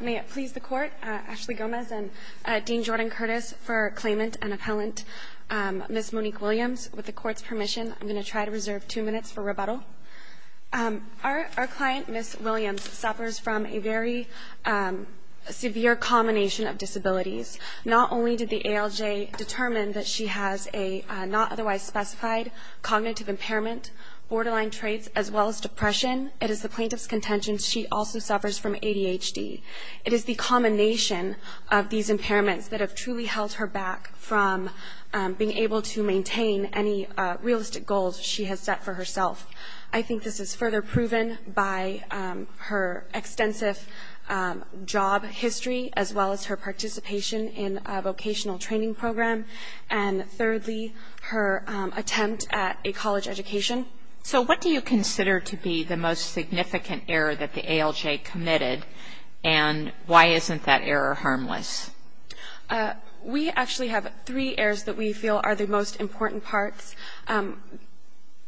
May it please the court, Ashley Gomez and Dean Jordan Curtis for claimant and appellant, Ms. Monique Williams. With the court's permission, I'm going to try to reserve two minutes for rebuttal. Our client, Ms. Williams, suffers from a very severe combination of disabilities. Not only did the ALJ determine that she has a not otherwise specified cognitive impairment, borderline traits, as well as ADHD. It is the combination of these impairments that have truly held her back from being able to maintain any realistic goals she has set for herself. I think this is further proven by her extensive job history, as well as her participation in a vocational training program, and thirdly, her attempt at a college education. So what do you consider to be the most significant error that the ALJ committed, and why isn't that error harmless? We actually have three errors that we feel are the most important parts.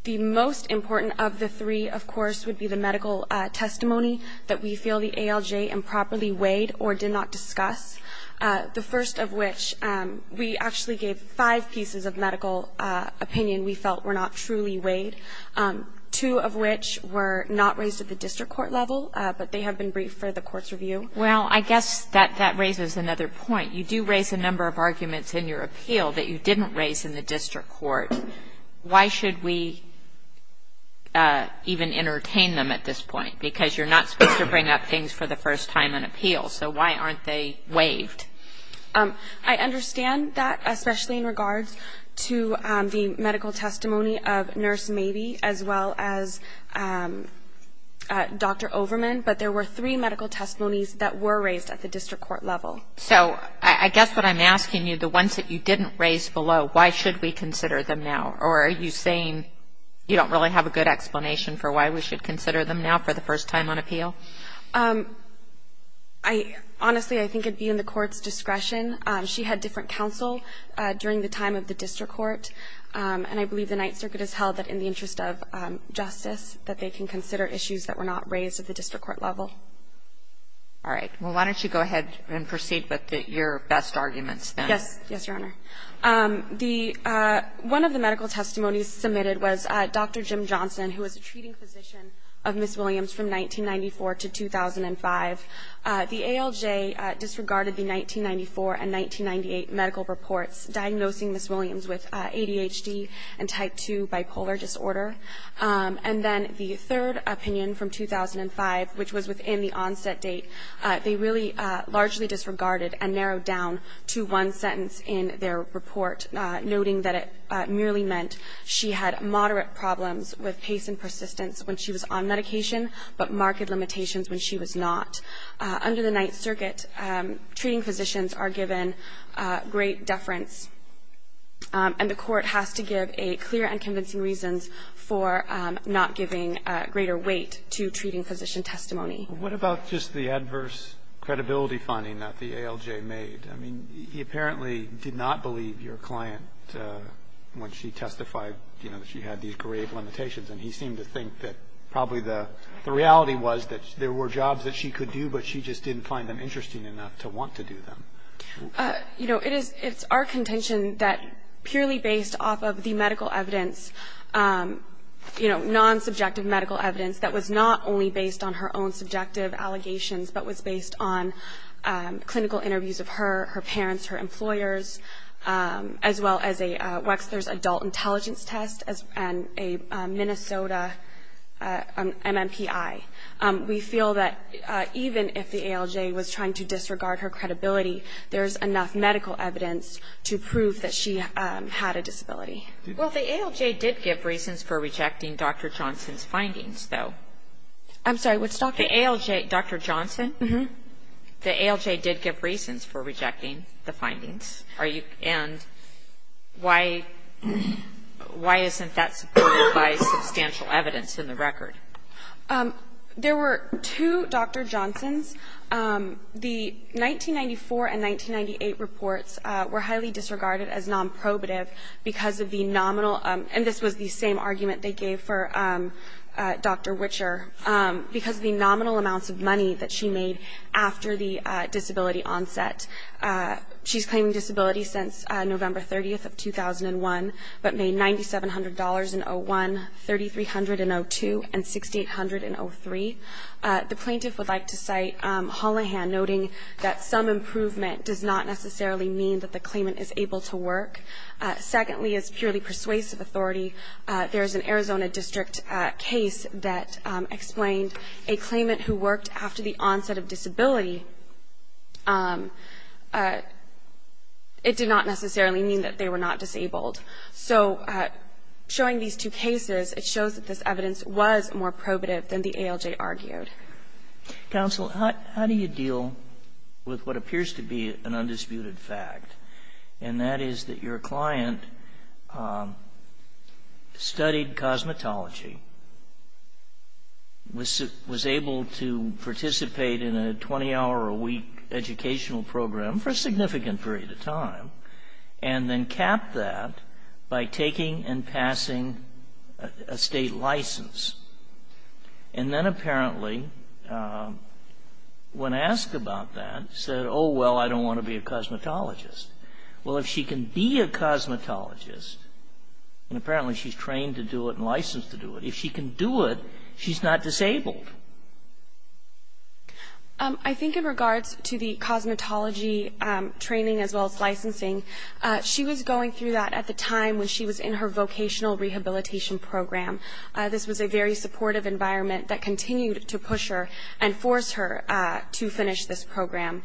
The most important of the three, of course, would be the medical testimony that we feel the ALJ improperly weighed or did not discuss. The first of which, we actually gave five pieces of medical opinion we felt were not truly weighed. Two of which were not raised at the district court level, but they have been briefed for the court's review. Well, I guess that that raises another point. You do raise a number of arguments in your appeal that you didn't raise in the district court. Why should we even entertain them at this point? Because you're not supposed to bring up things for the first time in appeal, so why aren't they weighed? I understand that, especially in regards to the medical testimony of Nurse Mabee, as well as Dr. Overman, but there were three medical testimonies that were raised at the district court level. So I guess what I'm asking you, the ones that you didn't raise below, why should we consider them now? Or are you saying you don't really have a good explanation for why we should consider them now for the first time on appeal? Honestly, I think it'd be in the court's discretion. She had different counsel during the time of the district court, and I believe the justice that they can consider issues that were not raised at the district court level. All right. Well, why don't you go ahead and proceed with your best arguments? Yes. Yes, Your Honor. The one of the medical testimonies submitted was Dr. Jim Johnson, who was a treating physician of Ms. Williams from 1994 to 2005. The ALJ disregarded the 1994 and 1998 medical reports diagnosing Ms. Williams. And then the third opinion from 2005, which was within the onset date, they really largely disregarded and narrowed down to one sentence in their report, noting that it merely meant she had moderate problems with pace and persistence when she was on medication, but marked limitations when she was not. Under the Ninth Circuit, treating physicians are given great deference, and the court has to give a clear and convincing reasons for not giving greater weight to treating physician testimony. What about just the adverse credibility finding that the ALJ made? I mean, he apparently did not believe your client when she testified, you know, that she had these grave limitations, and he seemed to think that probably the reality was that there were jobs that she could do, but she just didn't find them interesting enough to want to do them. You know, it's our contention that purely based off of the medical evidence, you know, non-subjective medical evidence that was not only based on her own subjective allegations, but was based on clinical interviews of her, her parents, her employers, as well as a Wexler's adult intelligence test and a Minnesota MMPI. We feel that even if the to prove that she had a disability. Well, the ALJ did give reasons for rejecting Dr. Johnson's findings, though. I'm sorry, which doctor? The ALJ, Dr. Johnson. The ALJ did give reasons for rejecting the findings. Are you, and why, why isn't that supported by substantial evidence in the record? There were two Dr. Johnsons. The 1994 and 1998 reports were highly disregarded as non-probative because of the nominal, and this was the same argument they gave for Dr. Wicher, because of the nominal amounts of money that she made after the disability onset. She's claiming disability since November 30th of 2001, but The plaintiff would like to cite Hollahan, noting that some improvement does not necessarily mean that the claimant is able to work. Secondly, as purely persuasive authority, there's an Arizona district case that explained a claimant who worked after the onset of disability, it did not necessarily mean that they were not disabled. So showing these two cases, it shows that this evidence was more probative than the ALJ argued. Counsel, how do you deal with what appears to be an undisputed fact, and that is that your client studied cosmetology, was able to participate in a 20-hour-a-week educational program for a significant period of time, and then capped that by taking and passing a state license. And then apparently, when asked about that, said, oh, well, I don't want to be a cosmetologist. Well, if she can be a cosmetologist, and apparently she's trained to do it and licensed to do it, if she can do it, she's not disabled. I think in regards to the cosmetology training as well as licensing, she was going through that at the time when she was in her vocational rehabilitation program. This was a very supportive environment that continued to push her and force her to finish this program.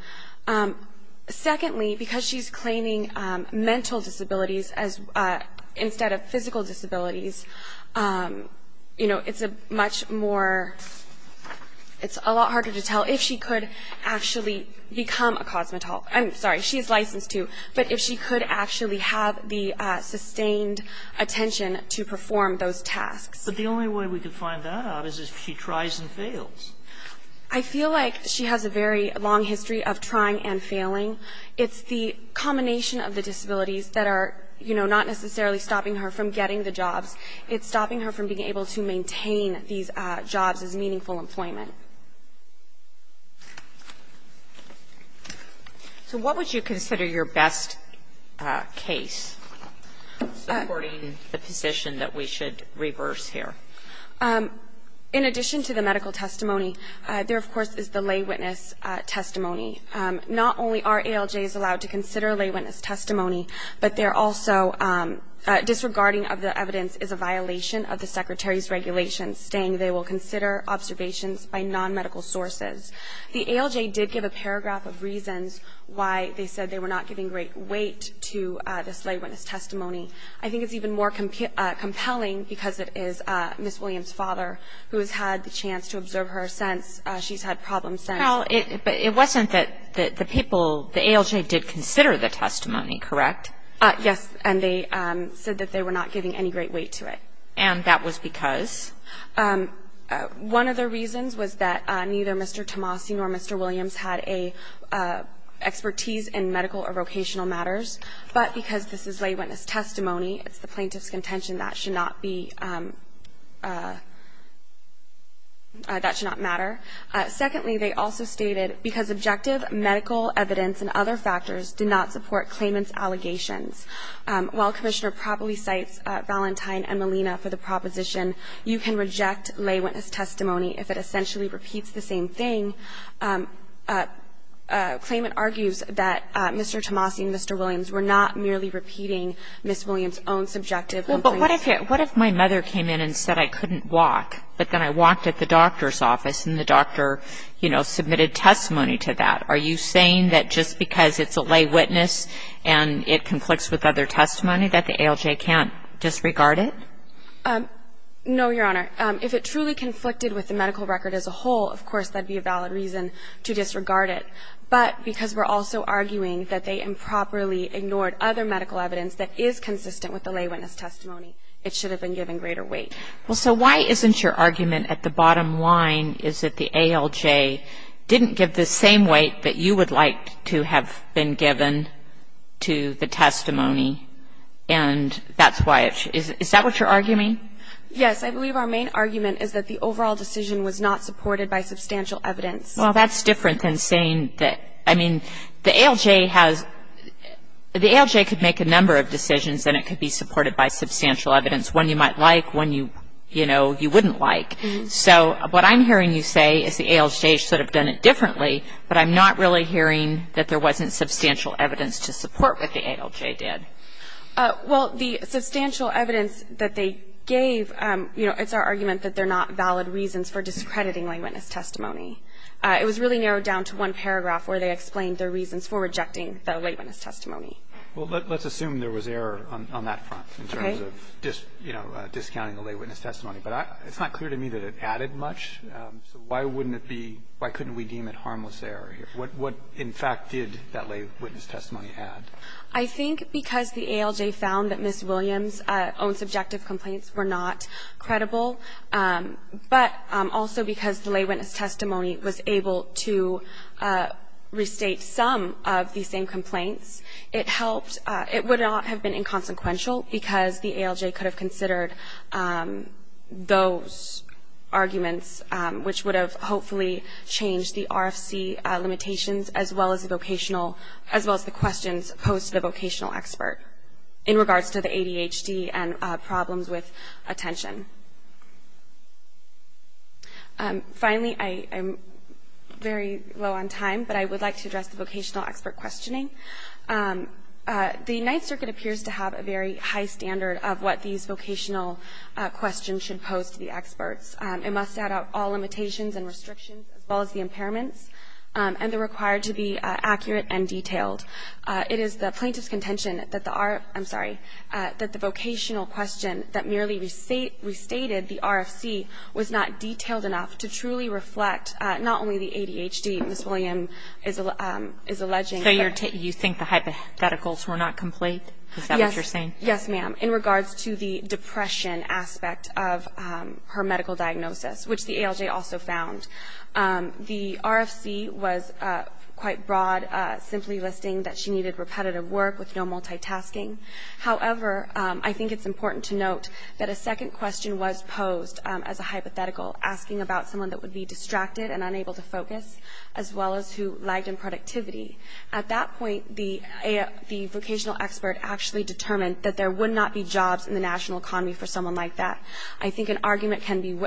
Secondly, because she's claiming mental disabilities instead of It's a lot harder to tell if she could actually become a cosmetologist or not. I'm sorry. She is licensed to. But if she could actually have the sustained attention to perform those tasks. But the only way we could find that out is if she tries and fails. I feel like she has a very long history of trying and failing. It's the combination of the disabilities that are, you know, not necessarily stopping her from getting the jobs. It's stopping her from being able to maintain these jobs as meaningful employment. So what would you consider your best case, supporting the position that we should reverse here? In addition to the medical testimony, there, of course, is the lay witness testimony. Not only are ALJs allowed to consider lay witness testimony, but they're also Disregarding of the evidence is a violation of the Secretary's regulations, saying they will consider observations by non-medical sources. The ALJ did give a paragraph of reasons why they said they were not giving great weight to this lay witness testimony. I think it's even more compelling because it is Ms. Williams' father who has had the chance to observe her since she's had problems since. Well, it wasn't that the people, the ALJ did consider the testimony, correct? Yes. And they said that they were not giving any great weight to it. And that was because? One of the reasons was that neither Mr. Tomasi nor Mr. Williams had a expertise in medical or vocational matters. But because this is lay witness testimony, it's the plaintiff's contention that should not be that should not matter. Secondly, they also stated, because objective medical evidence and other factors do not support Claimant's allegations, while Commissioner properly cites Valentine and Molina for the proposition, you can reject lay witness testimony if it essentially repeats the same thing. Claimant argues that Mr. Tomasi and Mr. Williams were not merely repeating Ms. Williams' own subjective complaints. But what if my mother came in and said I couldn't walk, but then I walked at the doctor's office and the doctor, you know, submitted testimony to that? Are you saying that just because it's a lay witness and it conflicts with other testimony that the ALJ can't disregard it? No, Your Honor. If it truly conflicted with the medical record as a whole, of course, that would be a valid reason to disregard it. But because we're also arguing that they improperly ignored other medical evidence that is consistent with the lay witness testimony, it should have been given greater weight. Well, so why isn't your argument at the bottom line is that the ALJ didn't give the same weight that you would like to have been given to the testimony? And that's why it should? Is that what you're arguing? Yes. I believe our main argument is that the overall decision was not supported by substantial evidence. Well, that's different than saying that, I mean, the ALJ has, the ALJ could make a number of decisions and it could be supported by substantial evidence. One you might like, one you, you know, you wouldn't like. So what I'm hearing you say is the ALJ should have done it differently, but I'm not really hearing that there wasn't substantial evidence to support what the ALJ did. Well, the substantial evidence that they gave, you know, it's our argument that they're not valid reasons for discrediting lay witness testimony. It was really narrowed down to one paragraph where they explained their reasons for rejecting the lay witness testimony. Well, let's assume there was error on that front in terms of, you know, discounting the lay witness testimony. But it's not clear to me that it added much. So why wouldn't it be, why couldn't we deem it harmless error here? What, in fact, did that lay witness testimony add? I think because the ALJ found that Ms. Williams' own subjective complaints were not credible, but also because the lay witness testimony was able to restate some of the same complaints, it helped, it would not have been inconsequential because the ALJ could have considered those arguments, which would have hopefully changed the RFC limitations, as well as the vocational, as well as the questions posed to the vocational expert in regards to the ADHD and problems with attention. Finally, I am very low on time, but I would like to address the vocational expert questioning. The Ninth Circuit appears to have a very high standard of what these vocational questions should pose to the experts. It must set out all limitations and restrictions, as well as the impairments, and they're required to be accurate and detailed. It is the plaintiff's contention that the R ---- I'm sorry, that the vocational question that merely restated the RFC was not detailed enough to truly reflect not only the ADHD, Ms. Williams is alleging. So you think the hypotheticals were not complete? Is that what you're saying? Yes, ma'am. In regards to the depression aspect of her medical diagnosis, which the ALJ also found, the RFC was quite broad, simply listing that she needed repetitive work with no multitasking. However, I think it's important to note that a second question was posed as a hypothetical, asking about someone that would be distracted and unable to focus, as well as who lagged in productivity. At that point, the vocational expert actually determined that there would not be jobs in the national economy for someone like that. I think an argument can be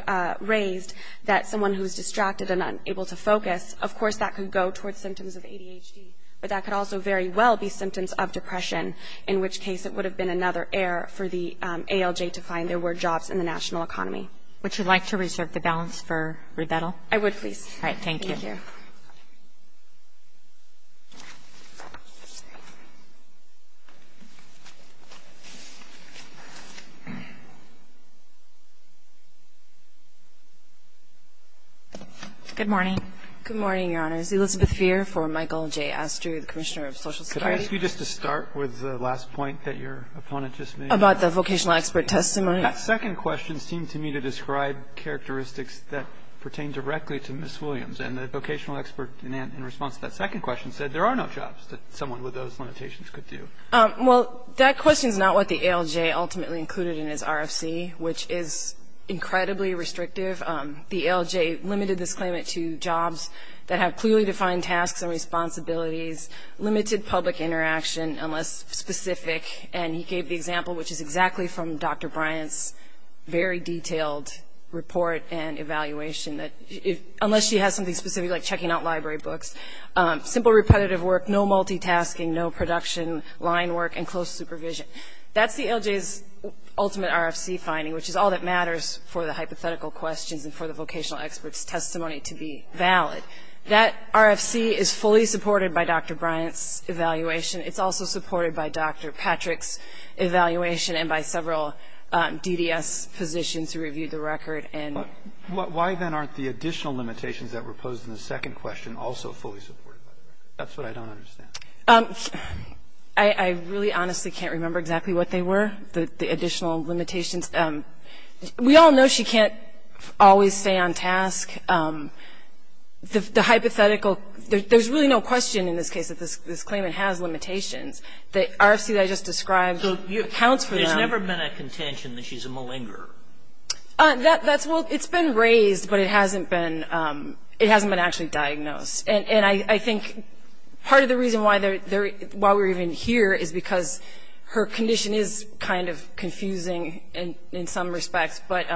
raised that someone who's distracted and unable to focus, of course, that could go toward symptoms of ADHD, but that could also very well be symptoms of depression, in which case it would have been another error for the ALJ to find there were jobs in the national economy. Would you like to reserve the balance for rebuttal? I would, please. All right. Thank you. Thank you, Your Honor. Good morning. Good morning, Your Honors. Elizabeth Feer for Michael J. Astrew, the Commissioner of Social Security. Could I ask you just to start with the last point that your opponent just made? About the vocational expert testimony? That second question seemed to me to describe characteristics that pertain directly to Ms. Williams, and the vocational expert in response to that second question said there are no jobs that someone with those limitations could do. Well, that question is not what the ALJ ultimately included in its RFC, which is incredibly restrictive. The ALJ limited this claimant to jobs that have clearly defined tasks and responsibilities, limited public interaction, unless specific, and he gave the example, which is exactly from Dr. Bryant's very detailed report and evaluation that unless she has something specific like checking out library books, simple repetitive work, no multitasking, no production, line work, and close supervision. That's the ALJ's ultimate RFC finding, which is all that matters for the hypothetical questions and for the vocational expert's testimony to be valid. That RFC is fully supported by Dr. Bryant's evaluation. It's also supported by Dr. Patrick's evaluation and by several DDS positions who reviewed the record. And why, then, aren't the additional limitations that were posed in the second question also fully supported by the record? That's what I don't understand. I really honestly can't remember exactly what they were, the additional limitations. We all know she can't always stay on task. The hypothetical, there's really no question in this case that this claimant has limitations. The RFC that I just described accounts for that. There's never been a contention that she's a malinger. That's, well, it's been raised, but it hasn't been actually diagnosed. And I think part of the reason why we're even here is because her condition is kind of confusing in some respects, but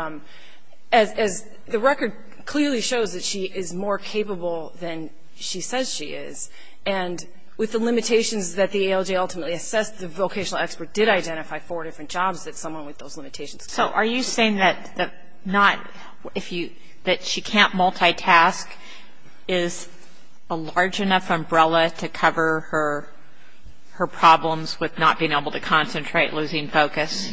as the record clearly shows that she is more capable than she says she is. And with the limitations that the ALJ ultimately assessed, the vocational expert did identify four different jobs that someone with those limitations could have. So are you saying that she can't multitask is a large enough umbrella to cover her problems with not being able to concentrate, losing focus?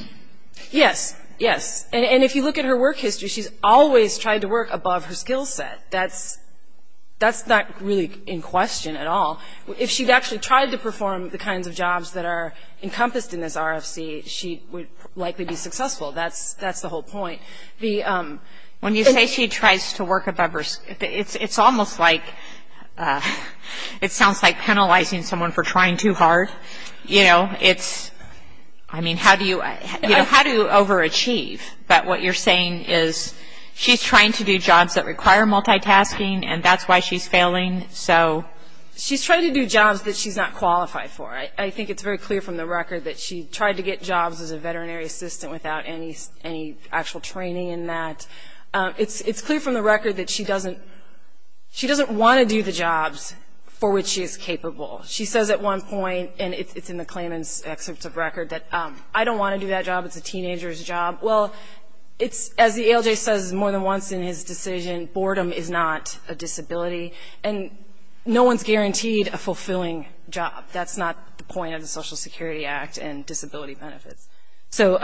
Yes. Yes. And if you look at her work history, she's always tried to work above her skill set. That's not really in question at all. If she'd actually tried to perform the kinds of jobs that are encompassed in this RFC, she would likely be successful. That's the whole point. When you say she tries to work above her skill set, it's almost like it sounds like penalizing someone for trying too hard. You know, it's, I mean, how do you overachieve? But what you're saying is she's trying to do jobs that require multitasking, and that's why she's failing, so. She's trying to do jobs that she's not qualified for. I think it's very clear from the record that she tried to get jobs as a veterinary assistant without any actual training in that. It's clear from the record that she doesn't want to do the jobs for which she is capable. She says at one point, and it's in the claimant's excerpt of record, that I don't want to do that job, it's a teenager's job. Well, as the ALJ says more than once in his decision, boredom is not a disability, and no one's guaranteed a fulfilling job. That's not the point of the Social Security Act and disability benefits. So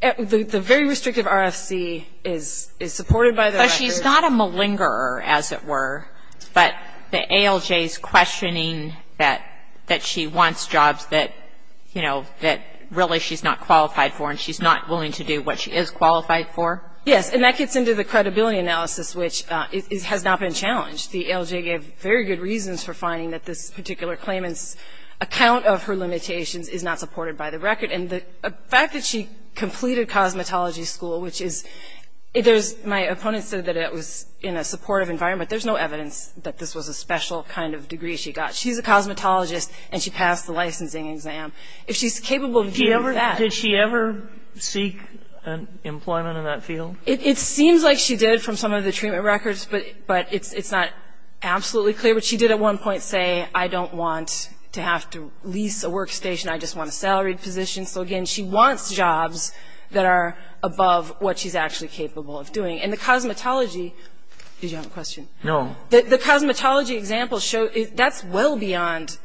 the very restrictive RFC is supported by the record. But she's not a malingerer, as it were, but the ALJ is questioning that she wants jobs that, you know, that really she's not qualified for and she's not willing to do what she is qualified for. Yes, and that gets into the credibility analysis, which has not been challenged. The ALJ gave very good reasons for finding that this particular claimant's account of her limitations is not supported by the record. And the fact that she completed cosmetology school, which is my opponent said that it was in a supportive environment, but there's no evidence that this was a special kind of degree she got. She's a cosmetologist and she passed the licensing exam. If she's capable of doing that. Did she ever seek employment in that field? It seems like she did from some of the treatment records, but it's not absolutely clear. But she did at one point say, I don't want to have to lease a workstation. I just want a salaried position. So, again, she wants jobs that are above what she's actually capable of doing. And the cosmetology – did you have a question? No. The cosmetology examples show that's well beyond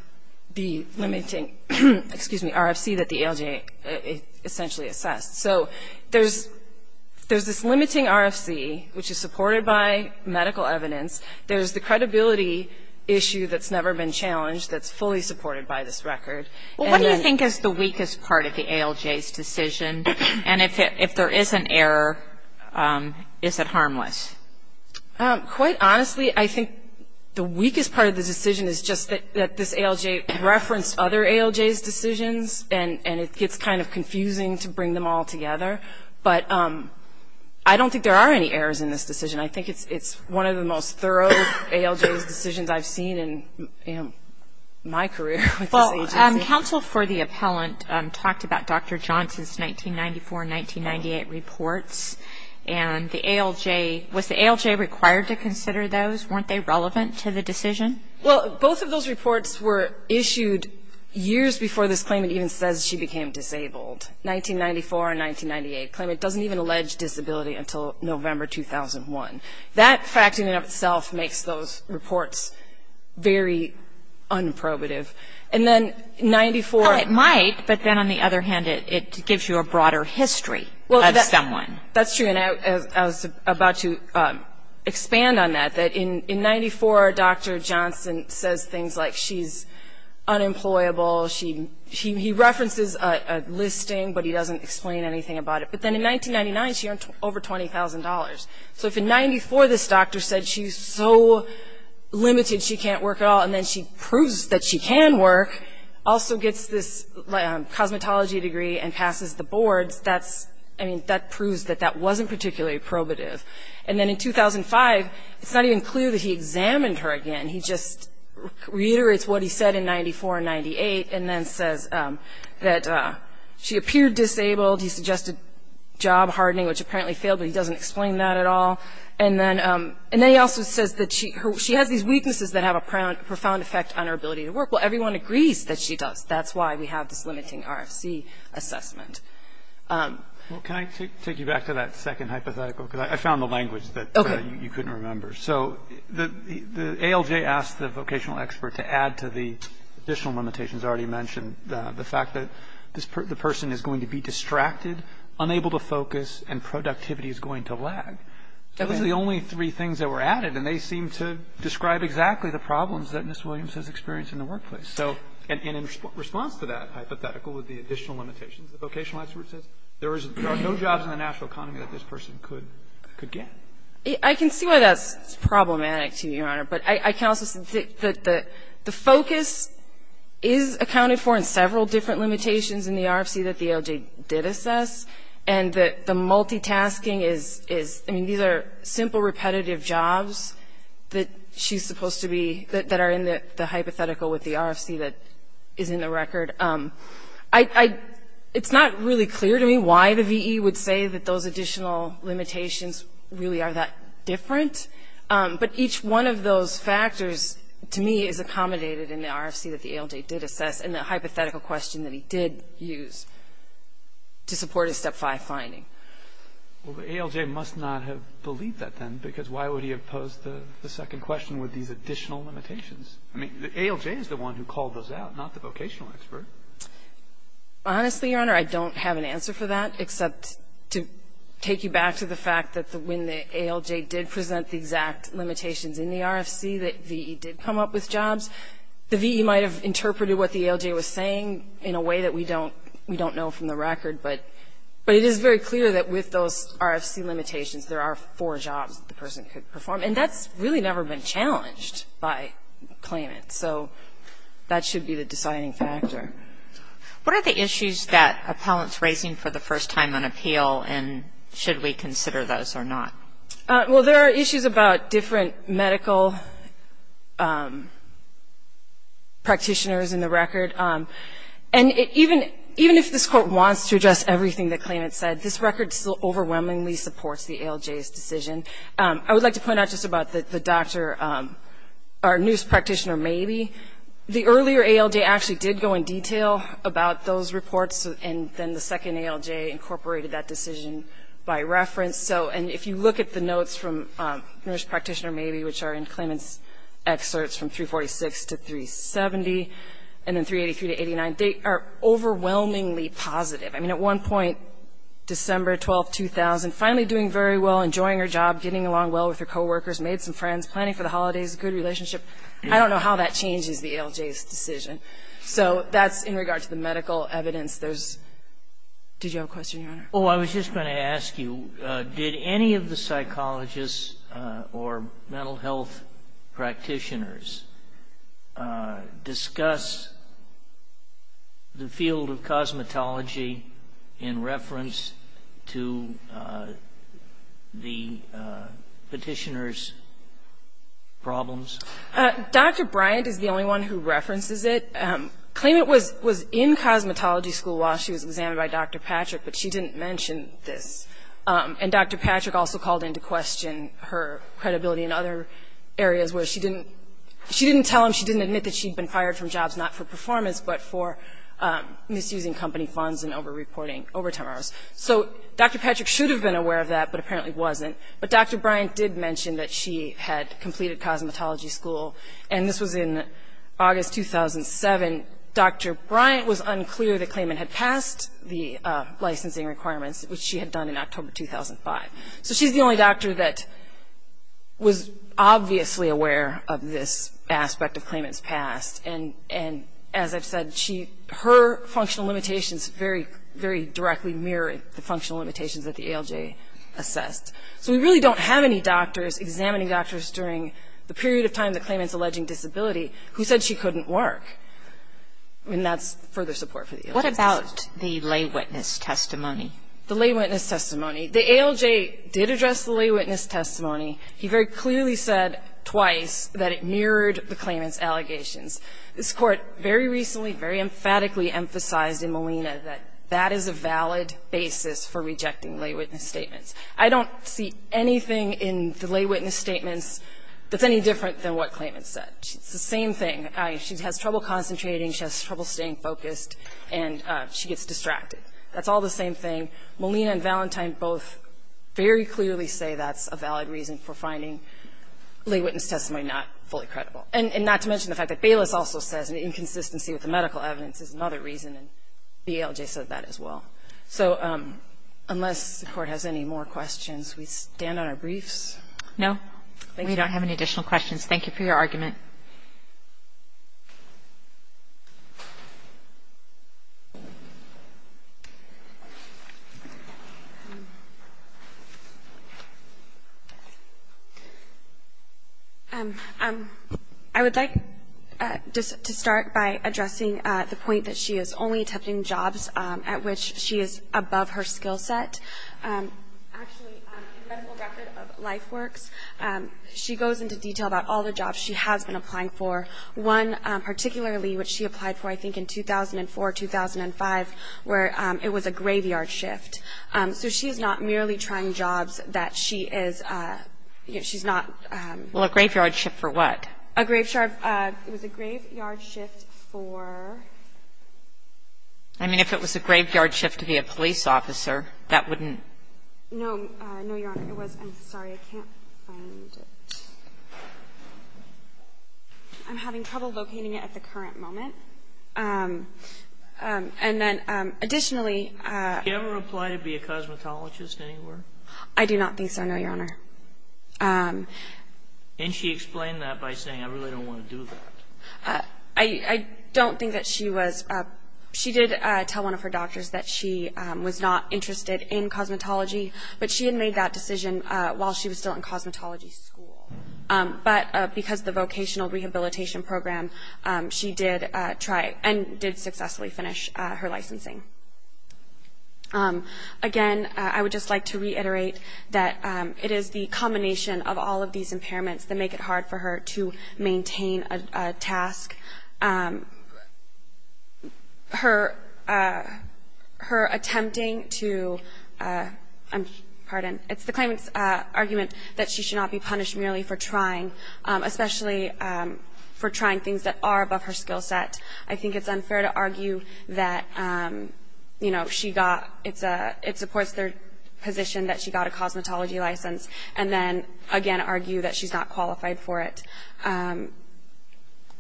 the limiting, excuse me, RFC that the ALJ essentially assessed. So there's this limiting RFC, which is supported by medical evidence. There's the credibility issue that's never been challenged that's fully supported by this record. What do you think is the weakest part of the ALJ's decision? And if there is an error, is it harmless? Quite honestly, I think the weakest part of the decision is just that this ALJ referenced other ALJ's decisions and it gets kind of confusing to bring them all together. But I don't think there are any errors in this decision. I think it's one of the most thorough ALJ's decisions I've seen in my career with this agency. Well, counsel for the appellant talked about Dr. Johnson's 1994 and 1998 reports. And the ALJ – was the ALJ required to consider those? Weren't they relevant to the decision? Well, both of those reports were issued years before this claimant even says she became disabled. 1994 and 1998 claimant doesn't even allege disability until November 2001. That fact in and of itself makes those reports very unprobative. And then 94 – Well, it might, but then on the other hand, it gives you a broader history of someone. That's true. And I was about to expand on that, that in 94, Dr. Johnson says things like she's unemployable. He references a listing, but he doesn't explain anything about it. But then in 1999, she earned over $20,000. So if in 94 this doctor said she's so limited she can't work at all, and then she proves that she can work, also gets this cosmetology degree and passes the boards, that's – I mean, that proves that that wasn't particularly probative. And then in 2005, it's not even clear that he examined her again. He just reiterates what he said in 94 and 98 and then says that she appeared disabled. He suggested job hardening, which apparently failed, but he doesn't explain that at all. And then he also says that she has these weaknesses that have a profound effect on her ability to work. Well, everyone agrees that she does. That's why we have this limiting RFC assessment. Well, can I take you back to that second hypothetical? Because I found the language that you couldn't remember. Okay. So the ALJ asked the vocational expert to add to the additional limitations already mentioned, the fact that the person is going to be distracted, unable to focus, and productivity is going to lag. Those are the only three things that were added, and they seem to describe exactly the problems that Ms. Williams has experienced in the workplace. And in response to that hypothetical with the additional limitations, the vocational expert says there are no jobs in the national economy that this person could get. I can see why that's problematic to you, Your Honor. But I can also say that the focus is accounted for in several different limitations in the RFC that the ALJ did assess, and that the multitasking is – I mean, these are simple, repetitive jobs that she's supposed to be – that are in the hypothetical with the RFC that is in the record. It's not really clear to me why the VE would say that those additional limitations really are that different. But each one of those factors, to me, is accommodated in the RFC that the ALJ did assess and the hypothetical question that he did use to support his Step 5 finding. Well, the ALJ must not have believed that then, because why would he have posed the second question with these additional limitations? I mean, the ALJ is the one who called those out, not the vocational expert. Honestly, Your Honor, I don't have an answer for that, except to take you back to the fact that when the ALJ did present the exact limitations in the RFC, that VE did come up with jobs. The VE might have interpreted what the ALJ was saying in a way that we don't know from the record, but it is very clear that with those RFC limitations, there are four jobs that the person could perform. And that's really never been challenged by claimants. So that should be the deciding factor. What are the issues that appellant's raising for the first time on appeal, and should we consider those or not? Well, there are issues about different medical practitioners in the record. And even if this Court wants to address everything that claimants said, this record still overwhelmingly supports the ALJ's decision. I would like to point out just about the doctor or nurse practitioner, Mabee. The earlier ALJ actually did go in detail about those reports, and then the second ALJ incorporated that decision by reference. So if you look at the notes from nurse practitioner Mabee, which are in claimant's 346 to 370, and then 383 to 89, they are overwhelmingly positive. I mean, at one point, December 12, 2000, finally doing very well, enjoying her job, getting along well with her coworkers, made some friends, planning for the holidays, good relationship. I don't know how that changes the ALJ's decision. So that's in regard to the medical evidence. Did you have a question, Your Honor? Oh, I was just going to ask you, did any of the psychologists or mental health practitioners discuss the field of cosmetology in reference to the Petitioner's problems? Dr. Bryant is the only one who references it. Claimant was in cosmetology school while she was examined by Dr. Patrick, but she didn't mention this. And Dr. Patrick also called into question her credibility in other areas where she didn't tell him, she didn't admit that she'd been fired from jobs not for performance, but for misusing company funds and over-reporting overtime hours. So Dr. Patrick should have been aware of that, but apparently wasn't. But Dr. Bryant did mention that she had completed cosmetology school, and this was in August 2007. Dr. Bryant was unclear that claimant had passed the licensing requirements, which she had done in October 2005. So she's the only doctor that was obviously aware of this aspect of claimant's past. And as I've said, her functional limitations very directly mirrored the functional limitations that the ALJ assessed. So we really don't have any doctors examining doctors during the period of time the claimant's alleging disability who said she couldn't work. And that's further support for the ALJ. What about the lay witness testimony? The lay witness testimony. The ALJ did address the lay witness testimony. He very clearly said twice that it mirrored the claimant's allegations. This Court very recently, very emphatically emphasized in Molina that that is a valid basis for rejecting lay witness statements. I don't see anything in the lay witness statements that's any different than what claimant said. It's the same thing. She has trouble concentrating, she has trouble staying focused, and she gets distracted. That's all the same thing. Molina and Valentine both very clearly say that's a valid reason for finding lay witness testimony not fully credible. And not to mention the fact that Bayless also says an inconsistency with the medical evidence is another reason, and the ALJ said that as well. So unless the Court has any more questions, we stand on our briefs. No? Thank you. We don't have any additional questions. Thank you for your argument. I would like to start by addressing the point that she is only attempting jobs at which she is above her skill set. Actually, in the medical record of LifeWorks, she goes into detail about all the jobs she has been applying for, one particularly which she applied for, I think, in 2004, 2005, where it was a graveyard shift. So she is not merely trying jobs that she is, you know, she's not. Well, a graveyard shift for what? It was a graveyard shift for? I mean, if it was a graveyard shift to be a police officer, that wouldn't No. No, Your Honor. It was. I'm sorry. I can't find it. I'm having trouble locating it at the current moment. And then additionally Did she ever apply to be a cosmetologist anywhere? I do not think so, no, Your Honor. And she explained that by saying, I really don't want to do that. I don't think that she was. She did tell one of her doctors that she was not interested in cosmetology, but she had made that decision while she was still in cosmetology school. But because of the vocational rehabilitation program, she did try and did successfully finish her licensing. Again, I would just like to reiterate that it is the combination of all of these impairments that make it hard for her to maintain a task. Her attempting to, pardon, it's the claimant's argument that she should not be punished merely for trying, especially for trying things that are above her skill set. I think it's unfair to argue that, you know, she got, it supports their position that she got a cosmetology license, and then, again, argue that she's not qualified for it.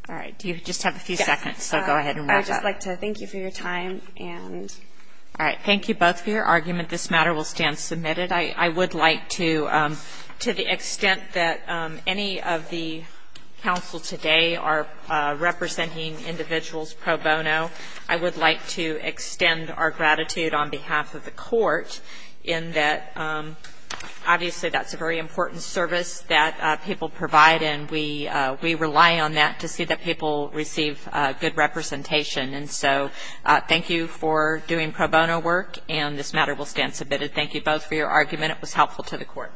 All right. Do you just have a few seconds? So go ahead and wrap up. I'd just like to thank you for your time. All right. Thank you both for your argument. This matter will stand submitted. I would like to, to the extent that any of the counsel today are representing individuals pro bono, I would like to extend our gratitude on behalf of the court in that obviously that's a very important service that people provide, and we rely on that to see that people receive good representation. And so thank you for doing pro bono work, and this matter will stand submitted. Thank you both for your argument. It was helpful to the court.